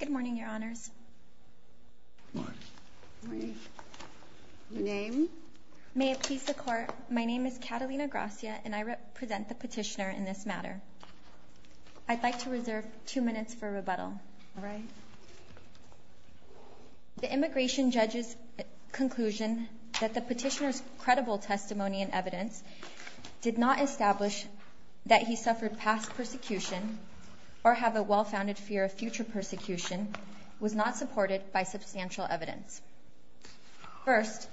Good morning, Your Honors. Good morning. Your name? May it please the Court, my name is Catalina Gracia and I represent the petitioner in this matter. I'd like to reserve two minutes for rebuttal. All right. The immigration judge's conclusion that the petitioner's credible testimony and evidence did not establish that he suffered past persecution or have a well-founded fear of future persecution was not supported by substantial evidence. First,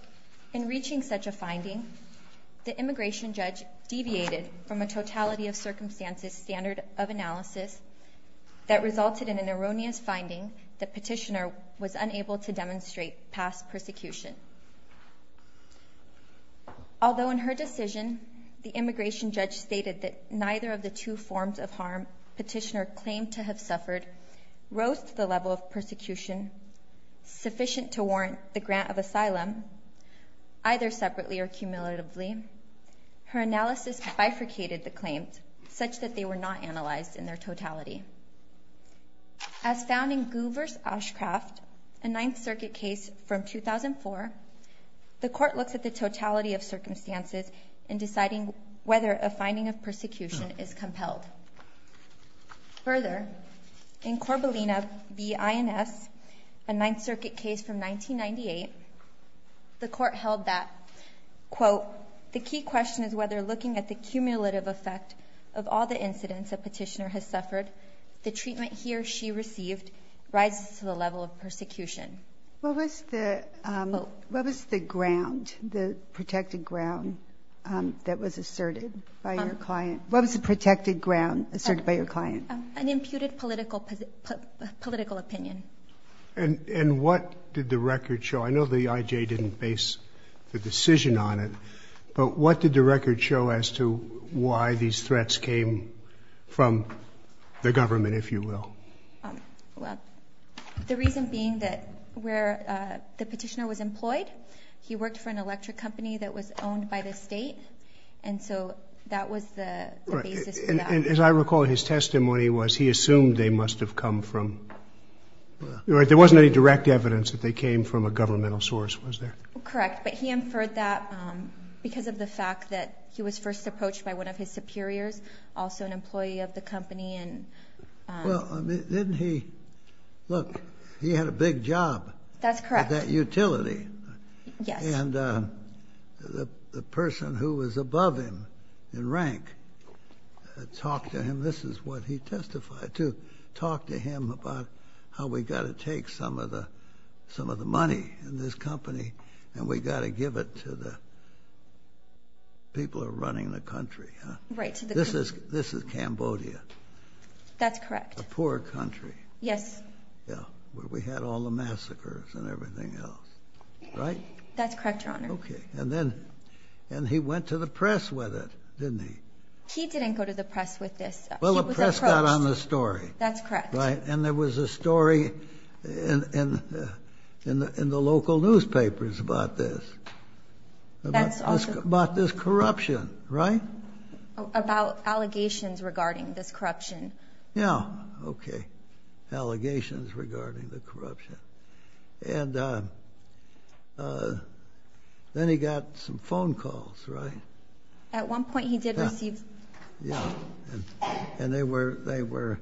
in reaching such a finding, the immigration judge deviated from a totality of circumstances standard of analysis that resulted in an erroneous finding that petitioner was unable to demonstrate past persecution. Although in her decision, the immigration judge stated that neither of the two forms of harm petitioner claimed to have suffered rose to the level of persecution sufficient to warrant the grant of asylum, either separately or cumulatively, her analysis bifurcated the claims such that they were not analyzed in their totality. As found in Gouver's Oshcraft, a Ninth Circuit case from 2004, the Court looks at the totality of circumstances in deciding whether a finding of persecution is compelled. Further, in Corbelina v. Ins, a Ninth Circuit case from 1998, the Court held that, quote, the key question is whether looking at the cumulative effect of all the incidents a petitioner has suffered, the treatment he or she received rises to the level of persecution. What was the ground, the protected ground that was asserted by your client? What was the protected ground asserted by your client? An imputed political opinion. And what did the record show? I know the IJ didn't base the decision on it, but what did the record show as to why these threats came from the government, if you will? Well, the reason being that where the petitioner was employed, he worked for an electric company that was owned by the state, and so that was the basis for that. As I recall, his testimony was he assumed they must have come from, there wasn't any direct evidence that they came from a governmental source, was there? Correct, but he inferred that because of the fact that he was first approached by one of his superiors, also an employee of the company. Well, didn't he, look, he had a big job. That's correct. At that utility. Yes. And the person who was above him in rank talked to him, this is what he testified to, talked to him about how we've got to take some of the money in this company and we've got to give it to the people who are running the country. Right. This is Cambodia. That's correct. A poor country. Yes. Yeah, where we had all the massacres and everything else, right? That's correct, Your Honor. Okay, and then he went to the press with it, didn't he? He didn't go to the press with this. Well, the press got on the story. That's correct. Right, and there was a story in the local newspapers about this, about this corruption, right? About allegations regarding this corruption. Yeah, okay, allegations regarding the corruption. And then he got some phone calls, right? At one point he did receive. Yeah, and they were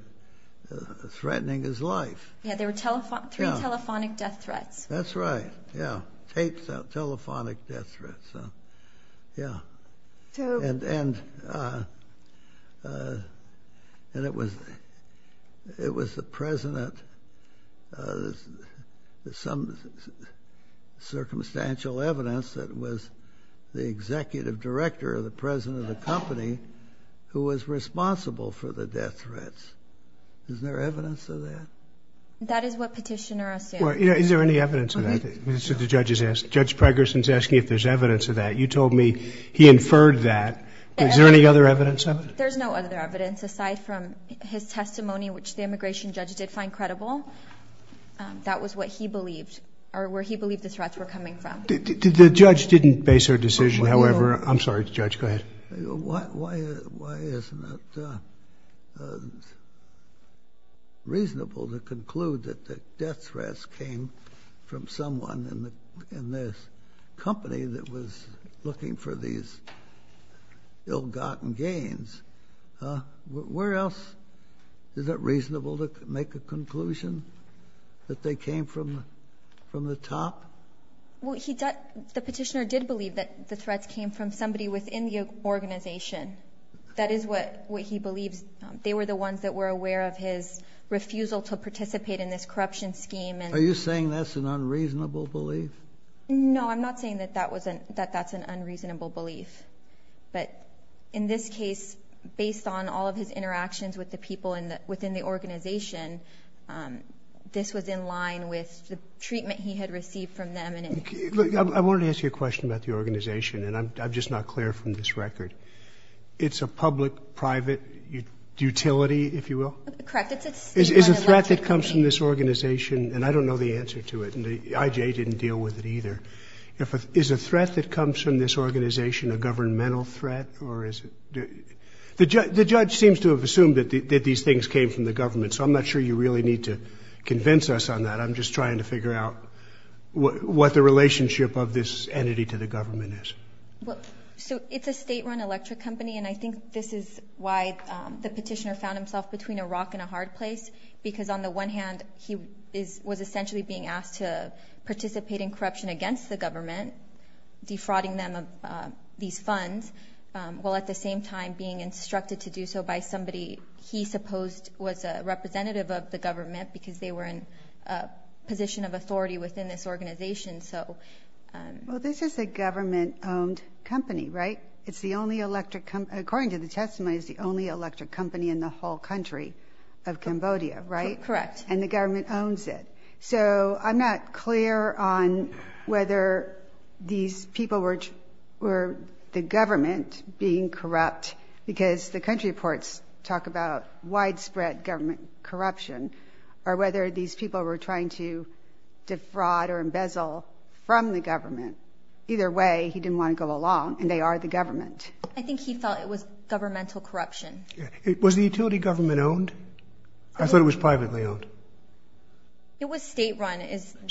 threatening his life. Yeah, there were three telephonic death threats. That's right, yeah, tapes of telephonic death threats, yeah. And it was the president, there's some circumstantial evidence that it was the executive director, the president of the company, who was responsible for the death threats. Isn't there evidence of that? That is what Petitioner assumes. Well, is there any evidence of that? Judge Pregerson's asking if there's evidence of that. You told me he inferred that. Is there any other evidence of it? There's no other evidence aside from his testimony, which the immigration judge did find credible. That was what he believed, or where he believed the threats were coming from. The judge didn't base her decision, however. I'm sorry, Judge, go ahead. Why isn't it reasonable to conclude that the death threats came from someone in this company that was looking for these ill-gotten gains? Where else is it reasonable to make a conclusion that they came from the top? The Petitioner did believe that the threats came from somebody within the organization. That is what he believes. They were the ones that were aware of his refusal to participate in this corruption scheme. Are you saying that's an unreasonable belief? No, I'm not saying that that's an unreasonable belief. But in this case, based on all of his interactions with the people within the organization, this was in line with the treatment he had received from them. I wanted to ask you a question about the organization, and I'm just not clear from this record. It's a public-private utility, if you will? Correct. It's a threat that comes from this organization, and I don't know the answer to it, and the IJ didn't deal with it either. Is a threat that comes from this organization a governmental threat? The judge seems to have assumed that these things came from the government, so I'm not sure you really need to convince us on that. I'm just trying to figure out what the relationship of this entity to the government is. It's a state-run electric company, and I think this is why the Petitioner found himself between a rock and a hard place, because on the one hand, he was essentially being asked to participate in corruption against the government, defrauding them of these funds, while at the same time being instructed to do so by somebody he supposed was a representative of the government because they were in a position of authority within this organization. Well, this is a government-owned company, right? According to the testimony, it's the only electric company in the whole country of Cambodia, right? Correct. And the government owns it. So I'm not clear on whether these people were the government being corrupt, because the country reports talk about widespread government corruption, or whether these people were trying to defraud or embezzle from the government. Either way, he didn't want to go along, and they are the government. I think he thought it was governmental corruption. Was the utility government owned? I thought it was privately owned. It was state-run.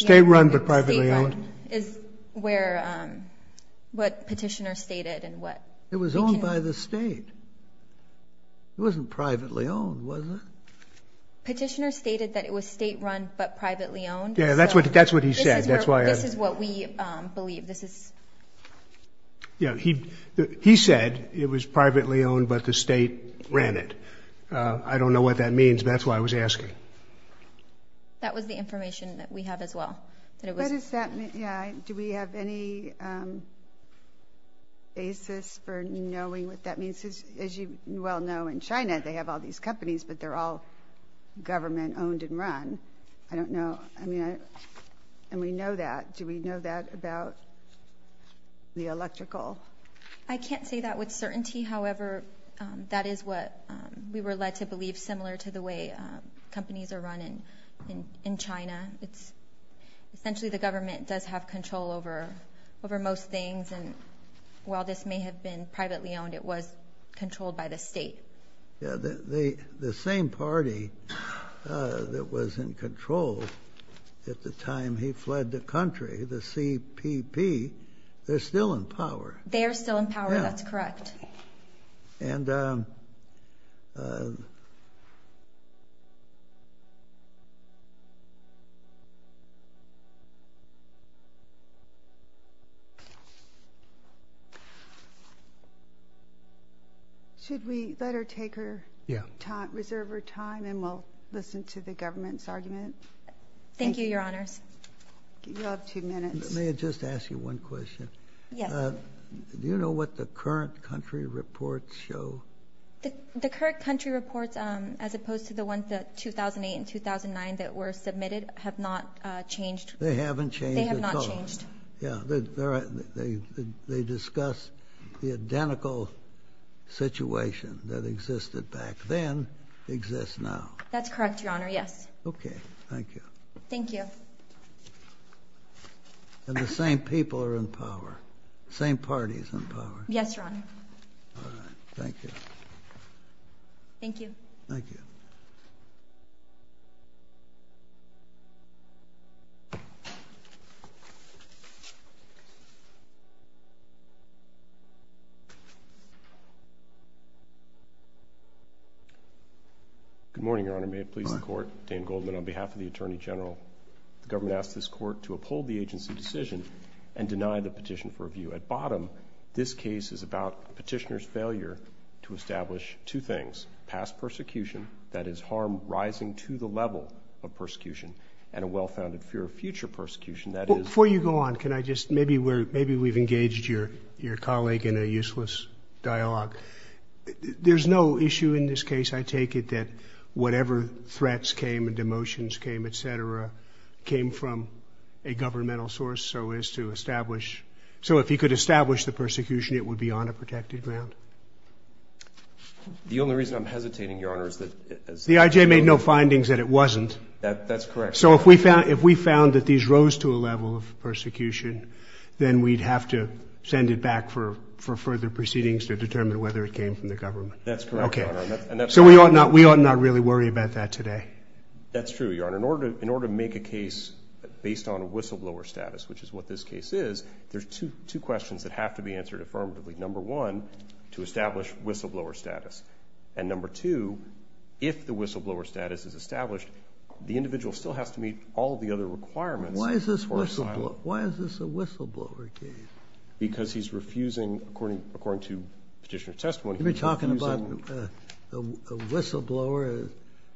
State-run but privately owned? State-run is what Petitioner stated. It was owned by the state. It wasn't privately owned, was it? Petitioner stated that it was state-run but privately owned. Yeah, that's what he said. This is what we believe. He said it was privately owned but the state ran it. I don't know what that means. That's why I was asking. That was the information that we have as well. Do we have any basis for knowing what that means? As you well know, in China they have all these companies, but they're all government-owned and run. I don't know. And we know that. Do we know that about the electrical? I can't say that with certainty. However, that is what we were led to believe, similar to the way companies are run in China. Essentially, the government does have control over most things, and while this may have been privately owned, it was controlled by the state. The same party that was in control at the time he fled the country, the CPP, they're still in power. They are still in power. That's correct. Should we let her take her time, reserve her time, and we'll listen to the government's argument? Thank you, Your Honors. You have two minutes. May I just ask you one question? Yes. Do you know what the current country reports show? The current country reports, as opposed to the ones that 2008 and 2009 that were submitted, have not changed. They haven't changed at all. They have not changed. Yeah. They discuss the identical situation that existed back then exists now. That's correct, Your Honor, yes. Okay. Thank you. Thank you. And the same people are in power. The same party is in power. Yes, Your Honor. All right. Thank you. Thank you. Good morning, Your Honor. May it please the Court? Dan Goldman on behalf of the Attorney General. The government asks this Court to uphold the agency decision and deny the petition for review. At bottom, this case is about petitioner's failure to establish two things, past persecution, that is, harm rising to the level of persecution, and a well-founded fear of future persecution, that is. Before you go on, can I just, maybe we've engaged your colleague in a useless dialogue. There's no issue in this case. I take it that whatever threats came and demotions came, et cetera, came from a governmental source, so as to establish. So if you could establish the persecution, it would be on a protected ground. The only reason I'm hesitating, Your Honor, is that... The IJ made no findings that it wasn't. That's correct. So if we found that these rose to a level of persecution, then we'd have to send it back for further proceedings to determine whether it came from the government. That's correct, Your Honor. So we ought not really worry about that today. That's true, Your Honor. In order to make a case based on a whistleblower status, which is what this case is, there's two questions that have to be answered affirmatively. Number one, to establish whistleblower status. And number two, if the whistleblower status is established, the individual still has to meet all of the other requirements for asylum. Why is this a whistleblower case? Because he's refusing, according to petitioner's testimony, he's refusing... You're talking about a whistleblower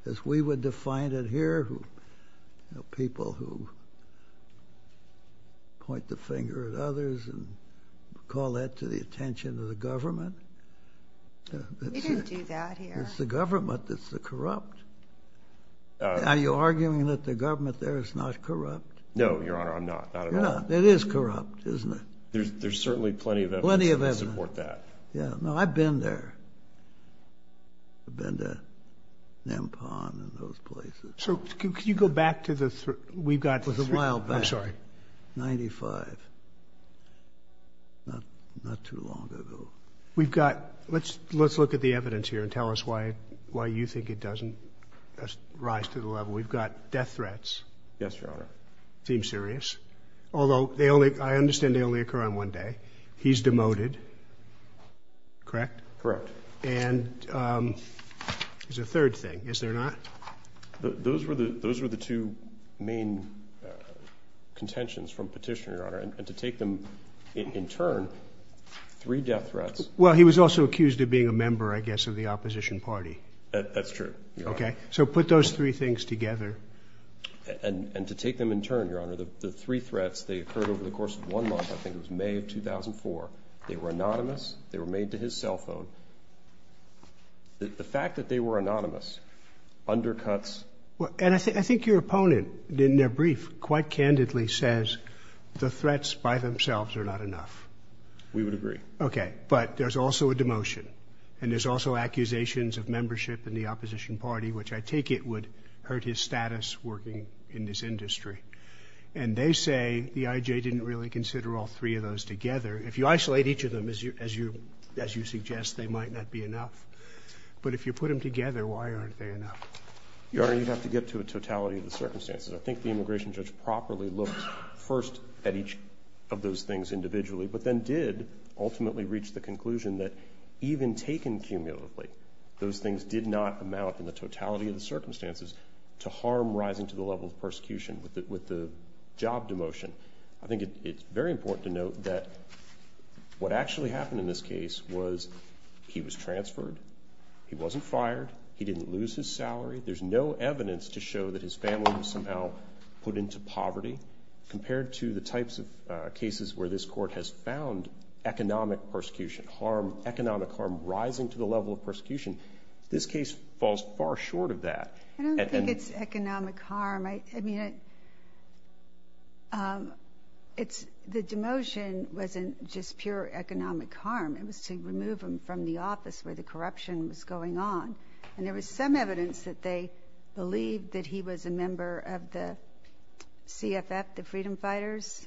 as we would define it here, people who point the finger at others and call that to the attention of the government? We didn't do that here. It's the government that's corrupt. Are you arguing that the government there is not corrupt? No, Your Honor, I'm not, not at all. No, it is corrupt, isn't it? There's certainly plenty of evidence to support that. Yeah. No, I've been there. I've been to Nampon and those places. So could you go back to the... We've got... It was a while back. I'm sorry. Ninety-five. Not too long ago. We've got... Let's look at the evidence here and tell us why you think it doesn't rise to the level. We've got death threats. Yes, Your Honor. It seems serious. Although they only... I understand they only occur on one day. He's demoted, correct? Correct. And there's a third thing, is there not? Those were the two main contentions from petition, Your Honor, and to take them in turn, three death threats. Well, he was also accused of being a member, I guess, of the opposition party. That's true, Your Honor. Okay, so put those three things together. And to take them in turn, Your Honor, the three threats, they occurred over the course of one month. I think it was May of 2004. They were anonymous. They were made to his cell phone. The fact that they were anonymous undercuts... And I think your opponent, in their brief, quite candidly says the threats by themselves are not enough. We would agree. Okay, but there's also a demotion, and there's also accusations of membership in the opposition party, which I take it would hurt his status working in this industry. And they say the IJ didn't really consider all three of those together. If you isolate each of them, as you suggest, they might not be enough. But if you put them together, why aren't they enough? Your Honor, you'd have to get to a totality of the circumstances. I think the immigration judge properly looked first at each of those things individually but then did ultimately reach the conclusion that even taken cumulatively, those things did not amount in the totality of the circumstances to harm rising to the level of persecution with the job demotion. I think it's very important to note that what actually happened in this case was he was transferred. He wasn't fired. He didn't lose his salary. There's no evidence to show that his family was somehow put into poverty compared to the types of cases where this Court has found economic persecution, economic harm rising to the level of persecution. This case falls far short of that. I don't think it's economic harm. The demotion wasn't just pure economic harm. It was to remove him from the office where the corruption was going on. And there was some evidence that they believed that he was a member of the CFF, the Freedom Fighters,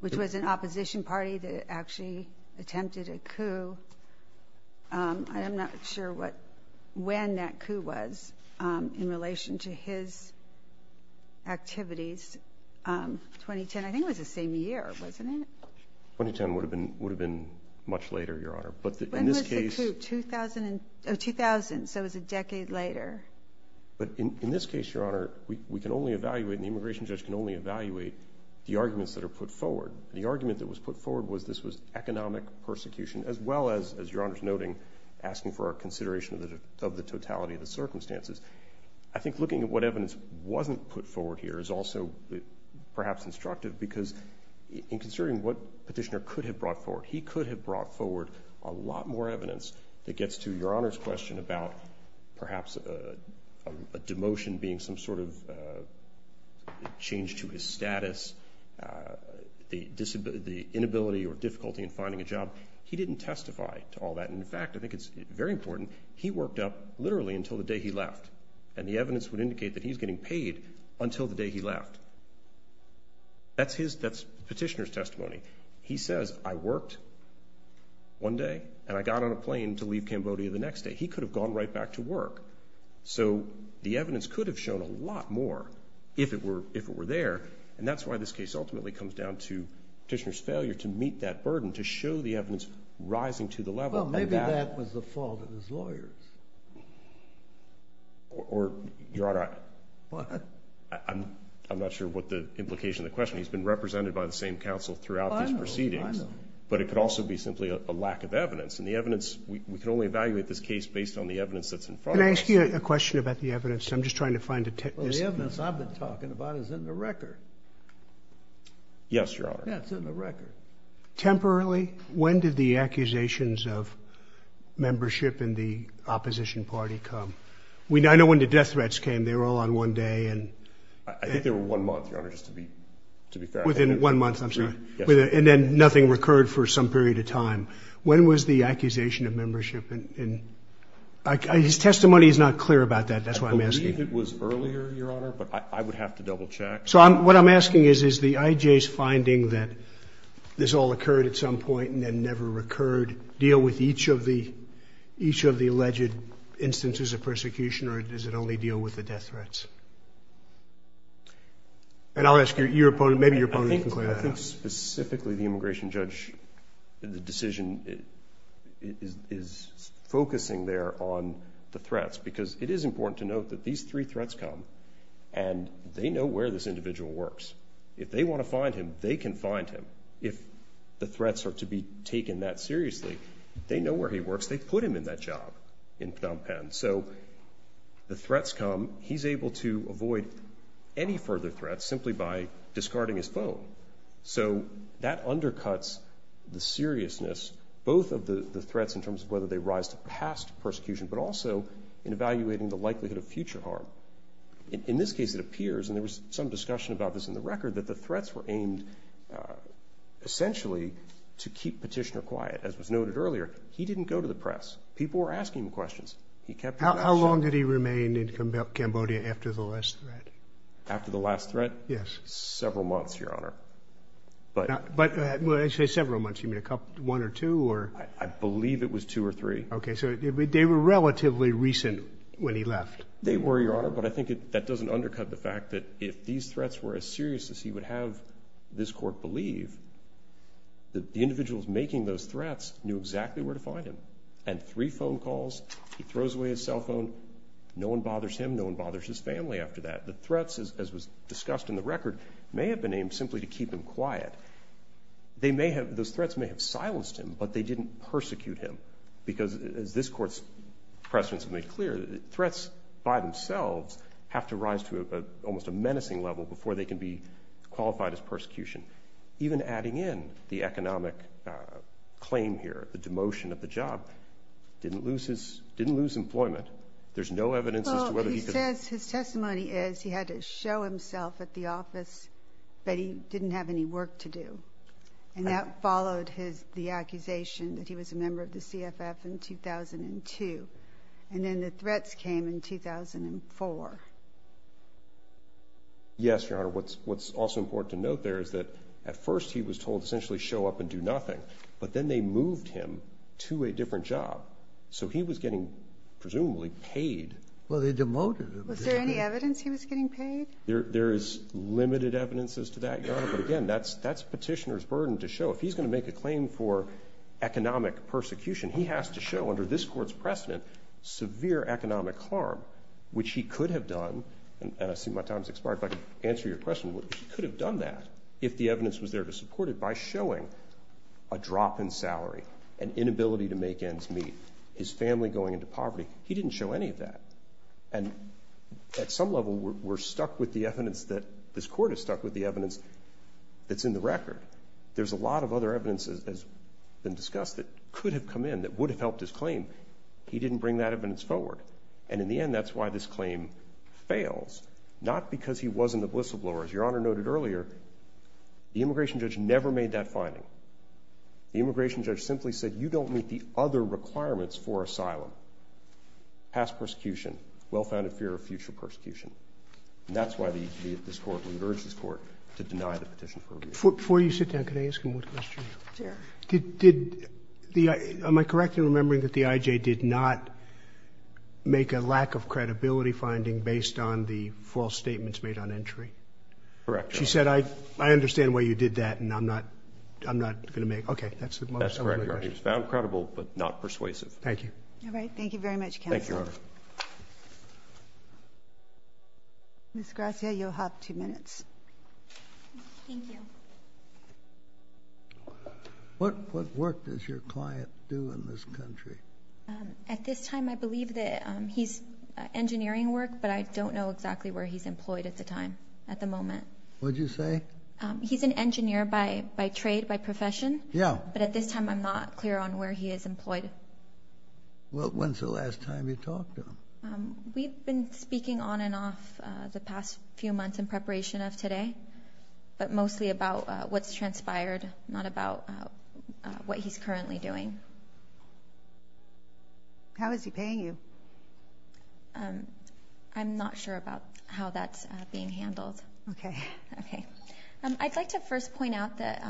which was an opposition party that actually attempted a coup. I am not sure when that coup was in relation to his activities. 2010, I think it was the same year, wasn't it? 2010 would have been much later, Your Honor. When was the coup? 2000, so it was a decade later. But in this case, Your Honor, we can only evaluate, and the immigration judge can only evaluate the arguments that are put forward. The argument that was put forward was this was economic persecution, as well as, Your Honor's noting, asking for our consideration of the totality of the circumstances. I think looking at what evidence wasn't put forward here is also perhaps instructive because in considering what Petitioner could have brought forward, he could have brought forward a lot more evidence that gets to Your Honor's question about perhaps a demotion being some sort of change to his status, the inability or difficulty in finding a job. He didn't testify to all that. In fact, I think it's very important, he worked up literally until the day he left, and the evidence would indicate that he was getting paid until the day he left. That's Petitioner's testimony. He says, I worked one day, and I got on a plane to leave Cambodia the next day. He could have gone right back to work. So the evidence could have shown a lot more if it were there, and that's why this case ultimately comes down to Petitioner's failure to meet that burden, to show the evidence rising to the level. Well, maybe that was the fault of his lawyers. Or, Your Honor, I'm not sure what the implication of the question is. He's been represented by the same counsel throughout these proceedings. I know, I know. But it could also be simply a lack of evidence, and the evidence, we can only evaluate this case based on the evidence that's in front of us. Can I ask you a question about the evidence? I'm just trying to find a tip. Well, the evidence I've been talking about is in the record. Yes, Your Honor. Yeah, it's in the record. Temporarily, when did the accusations of membership in the opposition party come? I know when the death threats came, they were all on one day. I think they were one month, Your Honor, just to be fair. Within one month, I'm sorry. And then nothing recurred for some period of time. When was the accusation of membership? His testimony is not clear about that. That's why I'm asking. I believe it was earlier, Your Honor, but I would have to double-check. So what I'm asking is, is the IJ's finding that this all occurred at some point and then never recurred deal with each of the alleged instances of persecution, or does it only deal with the death threats? And I'll ask your opponent. Maybe your opponent can clarify that. I think specifically the immigration judge, the decision is focusing there on the threats because it is important to note that these three threats come and they know where this individual works. If they want to find him, they can find him. If the threats are to be taken that seriously, they know where he works. They put him in that job in Phnom Penh. So the threats come. He's able to avoid any further threats simply by discarding his phone. So that undercuts the seriousness both of the threats in terms of whether they rise to past persecution but also in evaluating the likelihood of future harm. In this case, it appears, and there was some discussion about this in the record, that the threats were aimed essentially to keep Petitioner quiet. As was noted earlier, he didn't go to the press. People were asking him questions. How long did he remain in Cambodia after the last threat? After the last threat? Yes. Several months, Your Honor. But when I say several months, you mean one or two? I believe it was two or three. Okay, so they were relatively recent when he left. They were, Your Honor, but I think that doesn't undercut the fact that if these threats were as serious as he would have this court believe, the individuals making those threats knew exactly where to find him. And three phone calls, he throws away his cell phone, no one bothers him, no one bothers his family after that. The threats, as was discussed in the record, may have been aimed simply to keep him quiet. Those threats may have silenced him, but they didn't persecute him because, as this Court's precedents have made clear, threats by themselves have to rise to almost a menacing level before they can be qualified as persecution. Even adding in the economic claim here, the demotion of the job, didn't lose employment. There's no evidence as to whether he could. Well, he says his testimony is he had to show himself at the office, but he didn't have any work to do. And that followed the accusation that he was a member of the CFF in 2002. And then the threats came in 2004. Yes, Your Honor. What's also important to note there is that, at first, he was told essentially show up and do nothing. But then they moved him to a different job. So he was getting, presumably, paid. Well, they demoted him. Was there any evidence he was getting paid? There is limited evidence as to that, Your Honor. But again, that's Petitioner's burden to show. If he's going to make a claim for economic persecution, he has to show, under this Court's precedent, severe economic harm, which he could have done. And I see my time has expired. If I can answer your question, he could have done that, if the evidence was there to support it, by showing a drop in salary, an inability to make ends meet, his family going into poverty. He didn't show any of that. And at some level, we're stuck with the evidence that this Court is stuck with, the evidence that's in the record. There's a lot of other evidence, as has been discussed, that could have come in that would have helped his claim. He didn't bring that evidence forward. And in the end, that's why this claim fails, not because he wasn't a whistleblower. As Your Honor noted earlier, the immigration judge never made that finding. The immigration judge simply said, you don't meet the other requirements for asylum, past persecution, well-founded fear of future persecution. And that's why this Court would urge this Court to deny the petition for rebuke. Before you sit down, can I ask you one question? Sure. Did the IJ, am I correct in remembering that the IJ did not make a lack of credibility finding based on the false statements made on entry? Correct, Your Honor. She said, I understand why you did that, and I'm not going to make. Okay. That's correct. It was found credible, but not persuasive. All right. Thank you very much, counsel. Thank you, Your Honor. Ms. Gracia, you'll have two minutes. Thank you. What work does your client do in this country? At this time, I believe that he's engineering work, but I don't know exactly where he's employed at the time, at the moment. What did you say? He's an engineer by trade, by profession. Yeah. But at this time, I'm not clear on where he is employed. Well, when's the last time you talked to him? We've been speaking on and off the past few months in preparation of today, but mostly about what's transpired, not about what he's currently doing. How is he paying you? I'm not sure about how that's being handled. Okay. Okay. I'd like to first point out that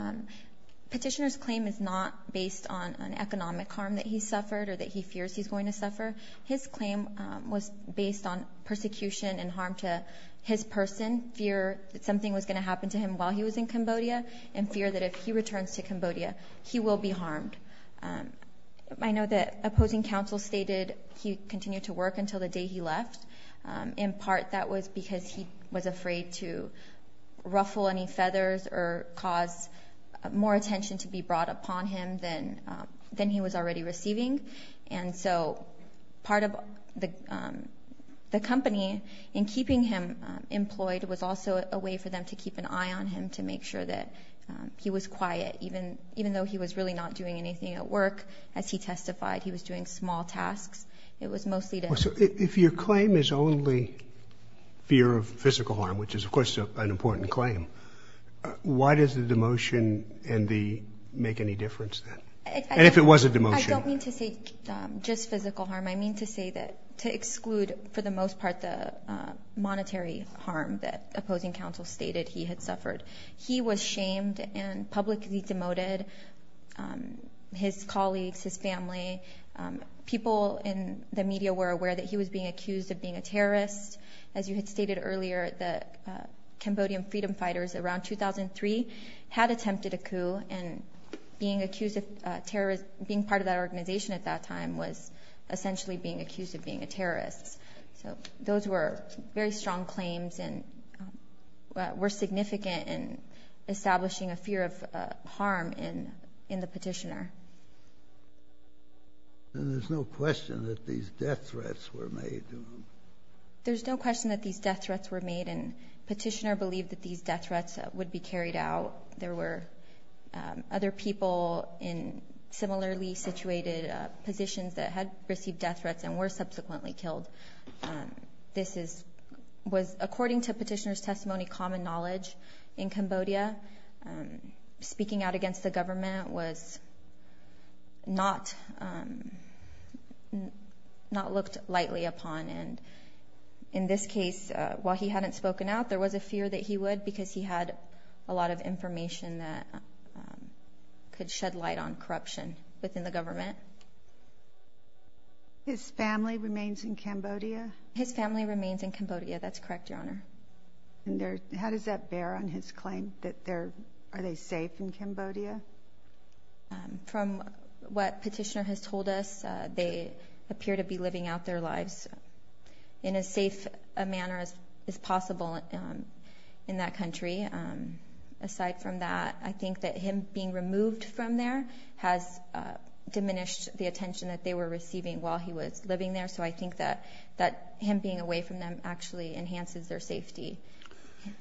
Petitioner's claim is not based on an economic harm that he suffered or that he fears he's going to suffer. His claim was based on persecution and harm to his person, fear that something was going to happen to him while he was in Cambodia, and fear that if he returns to Cambodia, he will be harmed. I know that opposing counsel stated he continued to work until the day he left. In part, that was because he was afraid to ruffle any feathers or cause more attention to be brought upon him than he was already receiving. And so part of the company in keeping him employed was also a way for them to keep an eye on him to make sure that he was quiet, even though he was really not doing anything at work. As he testified, he was doing small tasks. It was mostly to help him. If your claim is only fear of physical harm, which is, of course, an important claim, why does the demotion make any difference then? And if it was a demotion. I don't mean to say just physical harm. I mean to say that to exclude for the most part the monetary harm that opposing counsel stated he had suffered. He was shamed and publicly demoted. His colleagues, his family, people in the media were aware that he was being accused of being a terrorist. As you had stated earlier, the Cambodian freedom fighters around 2003 had attempted a coup and being part of that organization at that time was essentially being accused of being a terrorist. So those were very strong claims and were significant in establishing a fear of harm in the petitioner. And there's no question that these death threats were made. There's no question that these death threats were made and petitioner believed that these death threats would be carried out. There were other people in similarly situated positions that had received death threats and were subsequently killed. This was, according to petitioner's testimony, common knowledge in Cambodia. Speaking out against the government was not looked lightly upon. In this case, while he hadn't spoken out, there was a fear that he would because he had a lot of information that could shed light on corruption within the government. His family remains in Cambodia? His family remains in Cambodia. That's correct, Your Honor. How does that bear on his claim? Are they safe in Cambodia? From what petitioner has told us, they appear to be living out their lives in as safe a manner as possible in that country. Aside from that, I think that him being removed from there has diminished the attention that they were receiving while he was living there. So I think that him being away from them actually enhances their safety.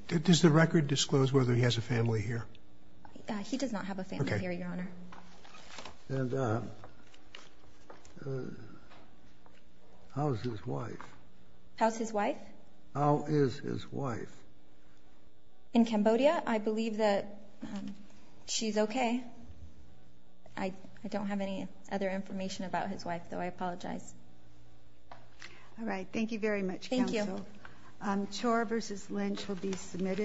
Does the record disclose whether he has a family here? He does not have a family here, Your Honor. And how's his wife? How's his wife? How is his wife? In Cambodia, I believe that she's okay. I don't have any other information about his wife, though. I apologize. All right. Thank you very much, Counsel. Thank you. Chor v. Lynch will be submitted.